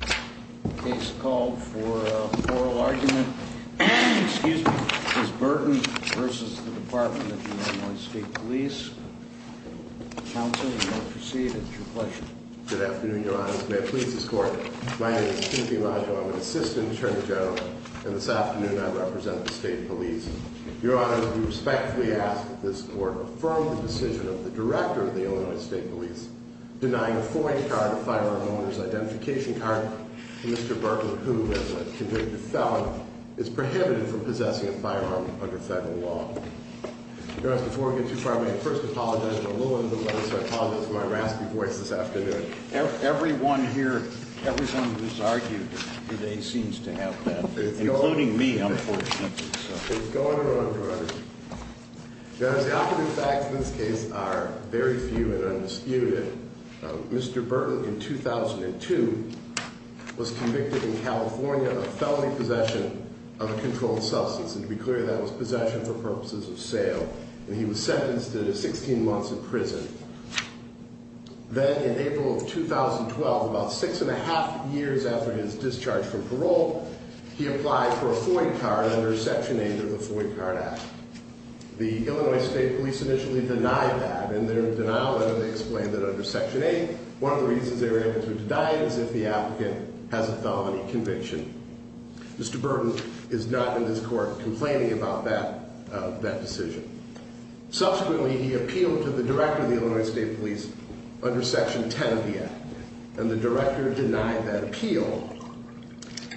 The case called for a plural argument, excuse me, is Burton v. Department of Illinois State Police. Counsel, you may proceed, it's your pleasure. Good afternoon, Your Honor. May I please this court? My name is Timothy Majo. I'm an assistant attorney general, and this afternoon I represent the state police. Your Honor, we respectfully ask that this court affirm the decision of the director of the Illinois State Police denying a foreign card of firearm owner's identification card to Mr. Burton who, as a convicted felon, is prohibited from possessing a firearm under federal law. Your Honor, before we get too far away, I first apologize for a little bit of delay, so I apologize for my raspy voice this afternoon. Everyone here, everyone who's argued today seems to have that, including me, unfortunately. It's going to run, Your Honor. Your Honor, the occupant facts in this case are very few and undisputed. Mr. Burton, in 2002, was convicted in California of felony possession of a controlled substance, and to be clear, that was possession for purposes of sale, and he was sentenced to 16 months in prison. Then, in April of 2012, about six and a half years after his discharge from parole, he applied for a foreign card under Section 8 of the Foreign Card Act. The Illinois State Police initially denied that, and in their denial letter, they explained that under Section 8, one of the reasons they were able to deny it is if the applicant has a felony conviction. Mr. Burton is not in this court complaining about that decision. Subsequently, he appealed to the director of the Illinois State Police under Section 10 of the Act, and the director denied that appeal.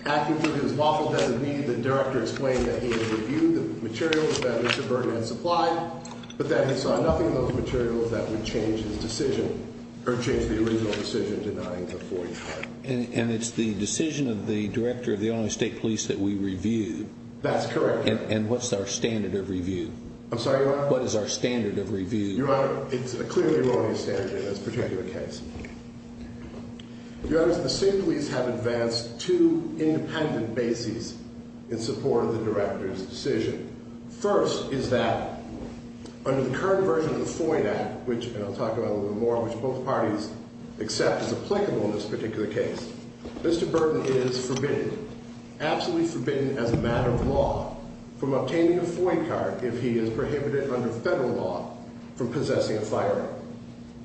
Afterward, his lawful designee, the director, explained that he had reviewed the materials that Mr. Burton had supplied, but that he saw nothing in those materials that would change his decision, or change the original decision denying the foreign card. And it's the decision of the director of the Illinois State Police that we reviewed? That's correct. And what's our standard of review? I'm sorry, Your Honor? What is our standard of review? Your Honor, it's a clearly erroneous standard in this particular case. Your Honor, the state police have advanced two independent bases in support of the director's decision. First is that under the current version of the FOIA Act, which I'll talk about a little more, which both parties accept is applicable in this particular case, Mr. Burton is forbidden, absolutely forbidden as a matter of law, from obtaining a FOIA card if he is prohibited under federal law from possessing a firearm.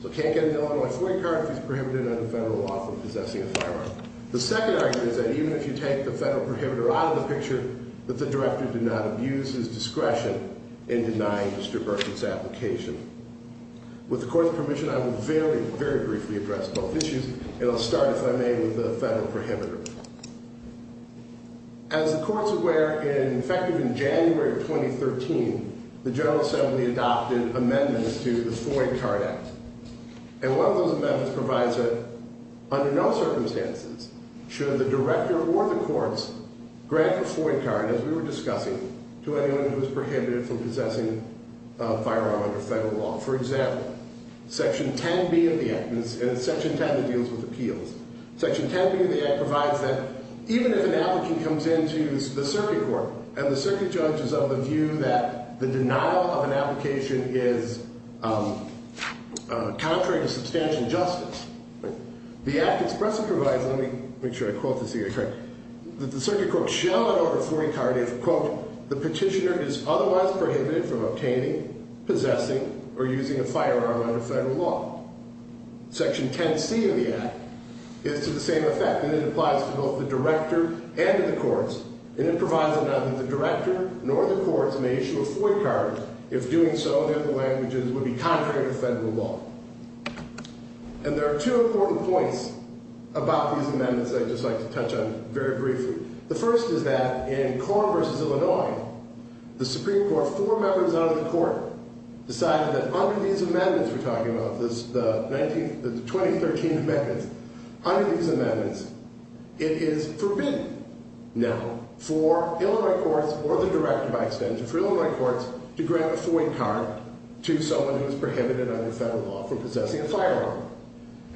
So can't get an Illinois FOIA card if he's prohibited under federal law from possessing a firearm. The second argument is that even if you take the federal prohibitor out of the picture, that the director did not abuse his discretion in denying Mr. Burton's application. With the court's permission, I will very, very briefly address both issues, and I'll start, if I may, with the federal prohibitor. As the court's aware, effective in January of 2013, the General Assembly adopted amendments to the FOIA Card Act. And one of those amendments provides that under no circumstances should the director or the courts grant a FOIA card, as we were discussing, to anyone who is prohibited from possessing a firearm under federal law. For example, Section 10B of the Act, and it's Section 10 that deals with appeals. Section 10B of the Act provides that even if an applicant comes into the circuit court and the circuit judge is of the view that the denial of an application is contrary to substantial justice, the Act expressly provides, let me make sure I quote this here correctly, that the circuit court shall not offer a FOIA card if, quote, the petitioner is otherwise prohibited from obtaining, possessing, or using a firearm under federal law. Section 10C of the Act is to the same effect, and it applies to both the director and to the courts. And it provides that neither the director nor the courts may issue a FOIA card. If doing so, then the languages would be contrary to federal law. And there are two important points about these amendments that I'd just like to touch on very briefly. The first is that in Corn v. Illinois, the Supreme Court, four members out of the court, decided that under these amendments we're talking about, the 2013 amendments, under these amendments, it is forbidden now for Illinois courts or the director, by extension, for Illinois courts to grant a FOIA card to someone who is prohibited under federal law. For possessing a firearm.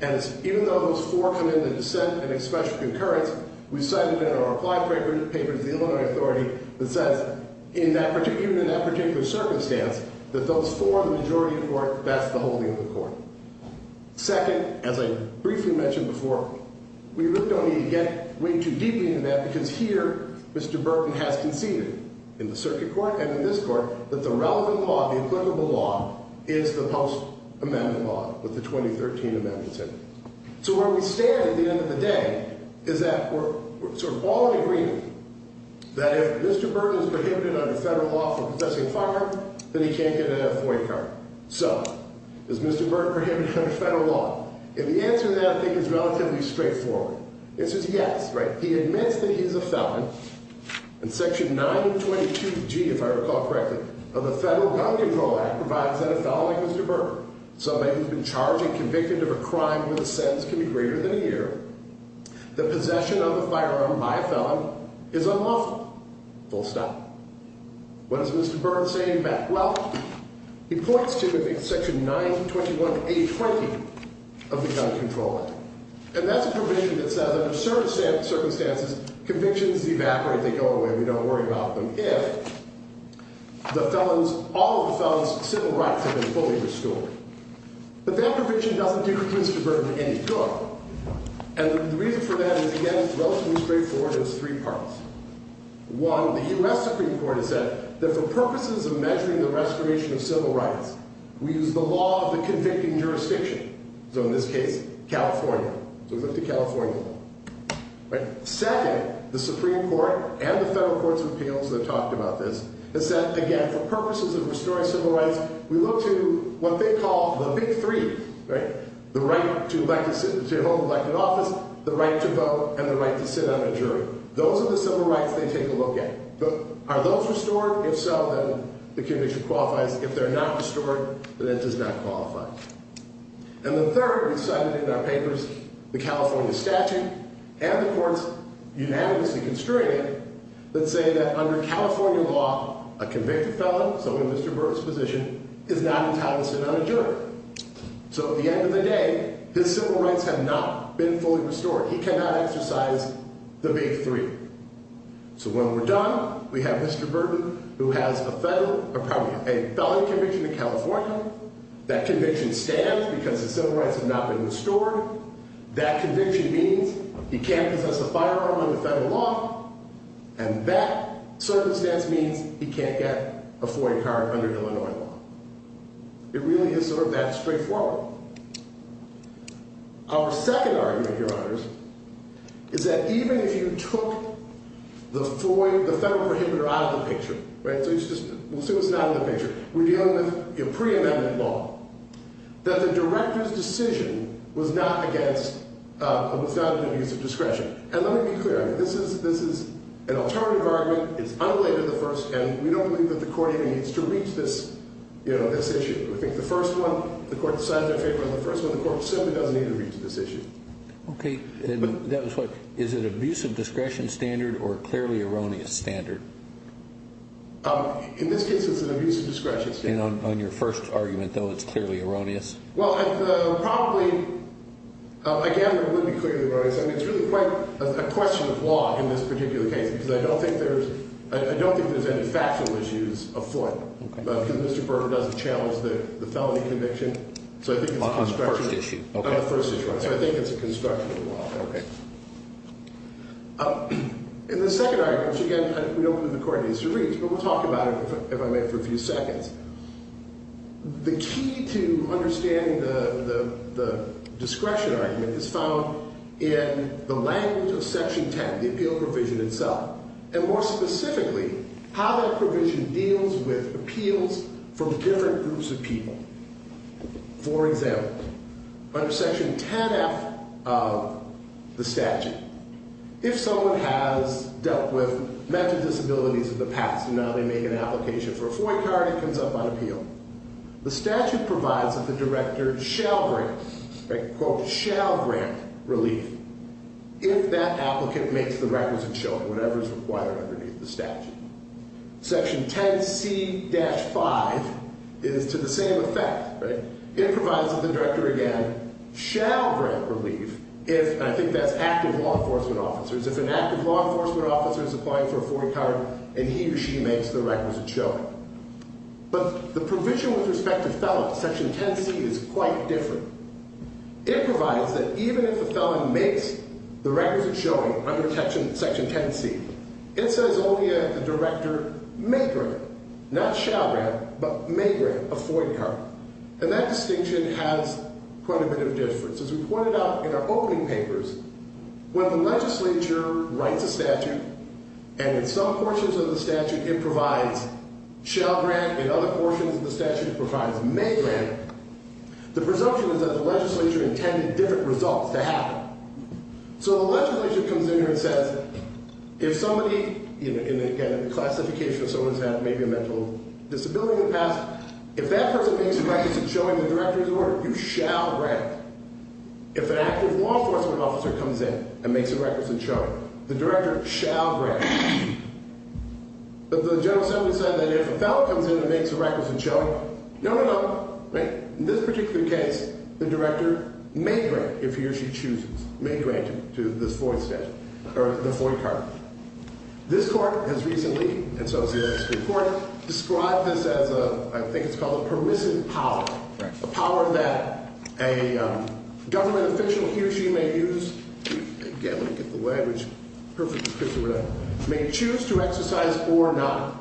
And even though those four come into dissent and express concurrence, we've cited in our applied papers, the Illinois authority, that says, even in that particular circumstance, that those four, the majority of the court, that's the holding of the court. Second, as I briefly mentioned before, we really don't need to get way too deeply into that, because here, Mr. Burton has conceded, in the circuit court and in this court, that the relevant law, the applicable law, is the post-amendment law with the 2013 amendments in it. So where we stand at the end of the day is that we're sort of all in agreement that if Mr. Burton is prohibited under federal law for possessing a firearm, then he can't get a FOIA card. So, is Mr. Burton prohibited under federal law? And the answer to that, I think, is relatively straightforward. It says yes, right? He admits that he's a felon. And section 922G, if I recall correctly, of the Federal Gun Control Act, provides that a felon like Mr. Burton, somebody who's been charged and convicted of a crime where the sentence can be greater than a year, the possession of a firearm by a felon is unlawful. Full stop. What is Mr. Burton saying back? Well, he points to section 921A20 of the Gun Control Act. And that's a provision that says, under certain circumstances, convictions evaporate. They go away. We don't worry about them if all of the felon's civil rights have been fully restored. But that provision doesn't do Mr. Burton any good. And the reason for that is, again, relatively straightforward. It has three parts. One, the U.S. Supreme Court has said that for purposes of measuring the restoration of civil rights, we use the law of the convicting jurisdiction. So in this case, California. So we look to California. Right? Second, the Supreme Court and the federal courts of appeals that have talked about this have said, again, for purposes of restoring civil rights, we look to what they call the big three. Right? The right to a home elected office, the right to vote, and the right to sit on a jury. Those are the civil rights they take a look at. Are those restored? If so, then the conviction qualifies. If they're not restored, then it does not qualify. And the third is cited in our papers, the California statute and the courts unanimously constrain it that say that under California law, a convicted felon, so in Mr. Burton's position, is not entitled to sit on a jury. So at the end of the day, his civil rights have not been fully restored. He cannot exercise the big three. So when we're done, we have Mr. Burton, who has a felony conviction in California. That conviction stands because the civil rights have not been restored. That conviction means he can't possess a firearm under federal law. And that circumstance means he can't get a foreign card under Illinois law. It really is sort of that straightforward. Our second argument, Your Honors, is that even if you took the federal prohibitor out of the picture, right? So we'll see what's not in the picture. We're dealing with pre-amendment law. That the director's decision was not against, was not in the use of discretion. And let me be clear. This is an alternative argument. It's unrelated to the first. And we don't believe that the court even needs to reach this issue. I think the first one, the court decided in their favor on the first one. The court simply doesn't need to reach this issue. Okay. And that was what? Is it an abuse of discretion standard or a clearly erroneous standard? In this case, it's an abuse of discretion standard. And on your first argument, though, it's clearly erroneous? Well, probably, again, it would be clearly erroneous. I mean, it's really quite a question of law in this particular case because I don't think there's any factual issues afoot. Okay. Because Mr. Berger doesn't challenge the felony conviction. So I think it's a construction of the law. On the first issue. On the first issue, right. So I think it's a construction of the law. Okay. And the second argument, which, again, we don't believe the court needs to reach, but we'll talk about it if I may for a few seconds. The key to understanding the discretion argument is found in the language of Section 10, the appeal provision itself. And more specifically, how that provision deals with appeals from different groups of people. For example, under Section 10F of the statute, if someone has dealt with mental disabilities in the past, and now they make an application for a FOIA card and it comes up on appeal, the statute provides that the director shall grant, right, quote, shall grant relief if that applicant makes the requisite showing, whatever is required underneath the statute. Section 10C-5 is to the same effect, right. It provides that the director, again, shall grant relief if, and I think that's active law enforcement officers, if an active law enforcement officer is applying for a FOIA card and he or she makes the requisite showing. But the provision with respect to felon, Section 10C, is quite different. It provides that even if the felon makes the requisite showing under Section 10C, it says only that the director may grant, not shall grant, but may grant a FOIA card. And that distinction has quite a bit of difference. As we pointed out in our opening papers, when the legislature writes a statute, and in some portions of the statute it provides shall grant, in other portions of the statute it provides may grant, the presumption is that the legislature intended different results to happen. So the legislature comes in here and says, if somebody, again, in the classification of someone who's had maybe a mental disability in the past, if that person makes the requisite showing in the director's order, you shall grant. If an active law enforcement officer comes in and makes a requisite showing, the director shall grant. But the general assembly said that if a felon comes in and makes a requisite showing, no, no, no. In this particular case, the director may grant if he or she chooses, may grant to this FOIA statute, or the FOIA card. This court has recently, and so has the other Supreme Court, described this as a, I think it's called a permissive power, a power that a government official, he or she may use, may choose to exercise or not.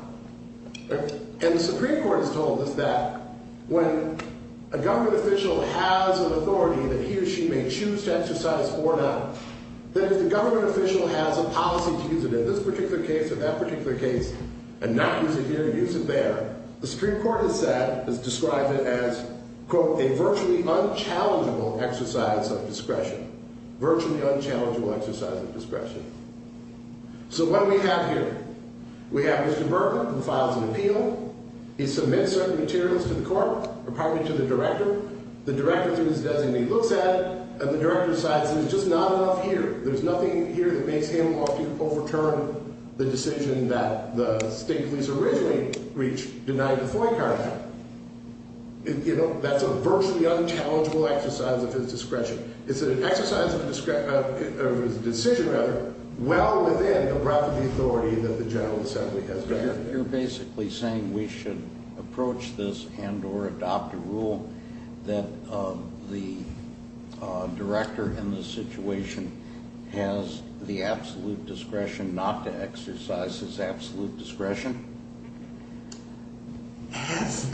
And the Supreme Court has told us that when a government official has an authority that he or she may choose to exercise or not, that if the government official has a policy to use it in this particular case or that particular case and not use it here, use it there, the Supreme Court has said, has described it as, quote, a virtually unchallengeable exercise of discretion. Virtually unchallengeable exercise of discretion. So what do we have here? We have Mr. Berger, who files an appeal. He submits certain materials to the court, apparently to the director. The director, through his designee, looks at it, and the director decides there's just not enough here. Denied the FOIA card. You know, that's a virtually unchallengeable exercise of his discretion. It's an exercise of his decision, rather, well within the breadth of the authority that the General Assembly has. You're basically saying we should approach this and or adopt a rule that the director in this situation has the absolute discretion not to exercise his absolute discretion? As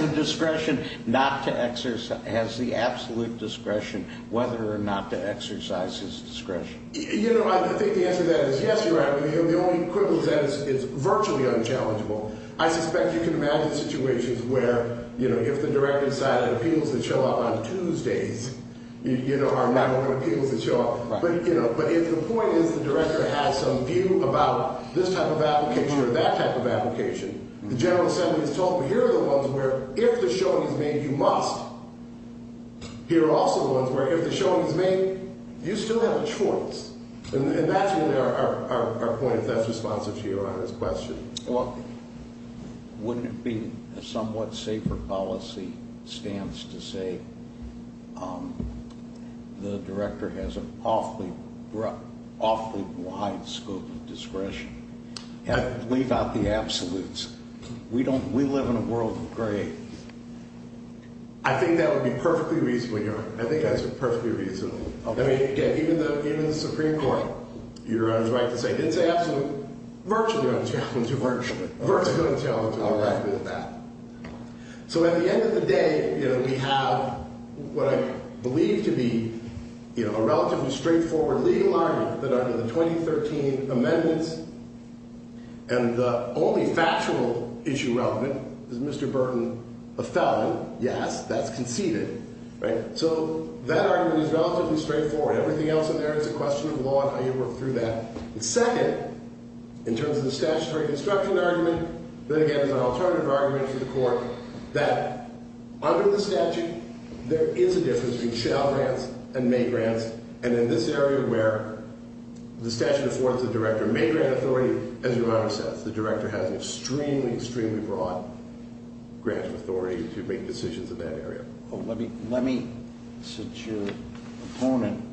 the discretion not to exercise, has the absolute discretion whether or not to exercise his discretion. You know, I think the answer to that is yes, you're right. The only equivalent to that is it's virtually unchallengeable. I suspect you can imagine situations where, you know, if the director decided appeals that show up on Tuesdays, you know, are not going to be able to show up. But, you know, but if the point is the director has some view about this type of application or that type of application, the General Assembly is told, well, here are the ones where if the showing is made, you must. Here are also the ones where if the showing is made, you still have a choice. And that's really our point if that's responsive to Your Honor's question. Well, wouldn't it be a somewhat safer policy stance to say the director has an awfully broad, awfully wide scope of discretion? Leave out the absolutes. We don't, we live in a world of gray. I think that would be perfectly reasonable, Your Honor. I think that's perfectly reasonable. I mean, again, even the Supreme Court, Your Honor's right to say it's absolute, virtually unchallengeable. Virtually unchallengeable. All right. So at the end of the day, you know, we have what I believe to be, you know, a relatively straightforward legal argument that under the 2013 amendments, and the only factual issue relevant is Mr. Burton, a felon. Yes, that's conceded. Right? So that argument is relatively straightforward. Everything else in there is a question of law and how you work through that. And second, in terms of the statutory construction argument, then again, there's an alternative argument to the court that under the statute, there is a difference between shall grants and may grants, and in this area where the statute affords the director may grant authority, as Your Honor says, the director has an extremely, extremely broad grant of authority to make decisions in that area. Let me, since your opponent,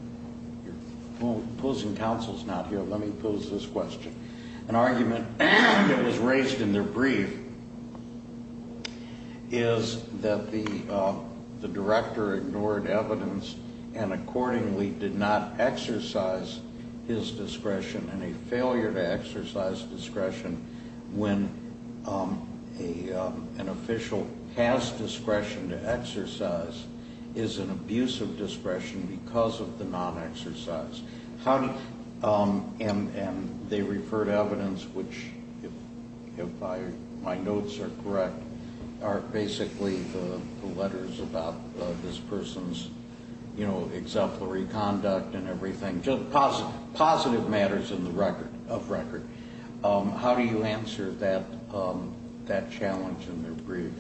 opposing counsel is not here, let me pose this question. An argument that was raised in their brief is that the director ignored evidence and accordingly did not exercise his discretion, and a failure to exercise discretion when an official has discretion to exercise is an abuse of discretion because of the non-exercise. And they referred evidence, which if my notes are correct, are basically the letters about this person's exemplary conduct and everything, just positive matters of record. How do you answer that challenge in their brief?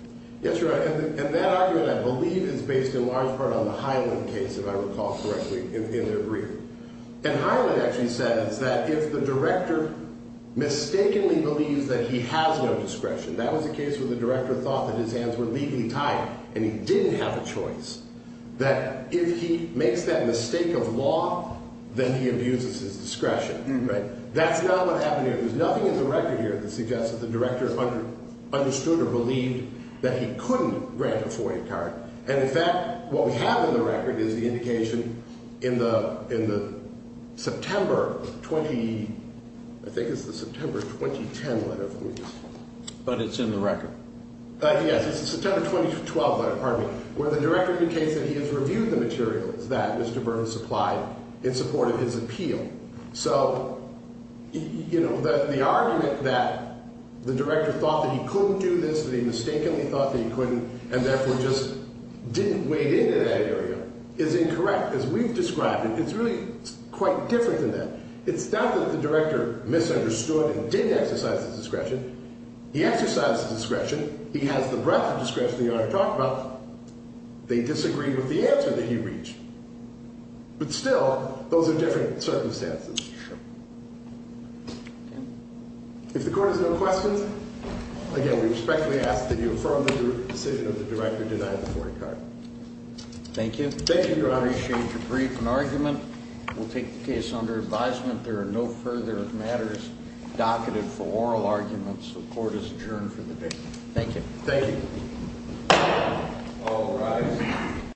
Yes, Your Honor, and that argument, I believe, is based in large part on the Hyland case, if I recall correctly, in their brief. And Hyland actually says that if the director mistakenly believes that he has no discretion, that was the case where the director thought that his hands were legally tied and he didn't have a choice, that if he makes that mistake of law, then he abuses his discretion, right? That's not what happened here. There's nothing in the record here that suggests that the director understood or believed that he couldn't grant a FOIA card. And, in fact, what we have in the record is the indication in the September 20, I think it's the September 2010 letter. But it's in the record. Yes, it's the September 2012 letter, pardon me, where the director indicates that he has reviewed the materials that Mr. Burns supplied in support of his appeal. So, you know, the argument that the director thought that he couldn't do this, that he mistakenly thought that he couldn't and therefore just didn't wade into that area is incorrect, as we've described it. It's really quite different than that. It's not that the director misunderstood and didn't exercise his discretion. He exercised his discretion. He has the breadth of discretion the Honor talked about. They disagreed with the answer that he reached. But still, those are different circumstances. Sure. If the court has no questions, again, we respectfully ask that you affirm the decision of the director denying the FOIA card. Thank you. Thank you, Your Honor. I appreciate your brief and argument. We'll take the case under advisement. There are no further matters docketed for oral arguments. The court is adjourned for the day. Thank you. Thank you. All rise.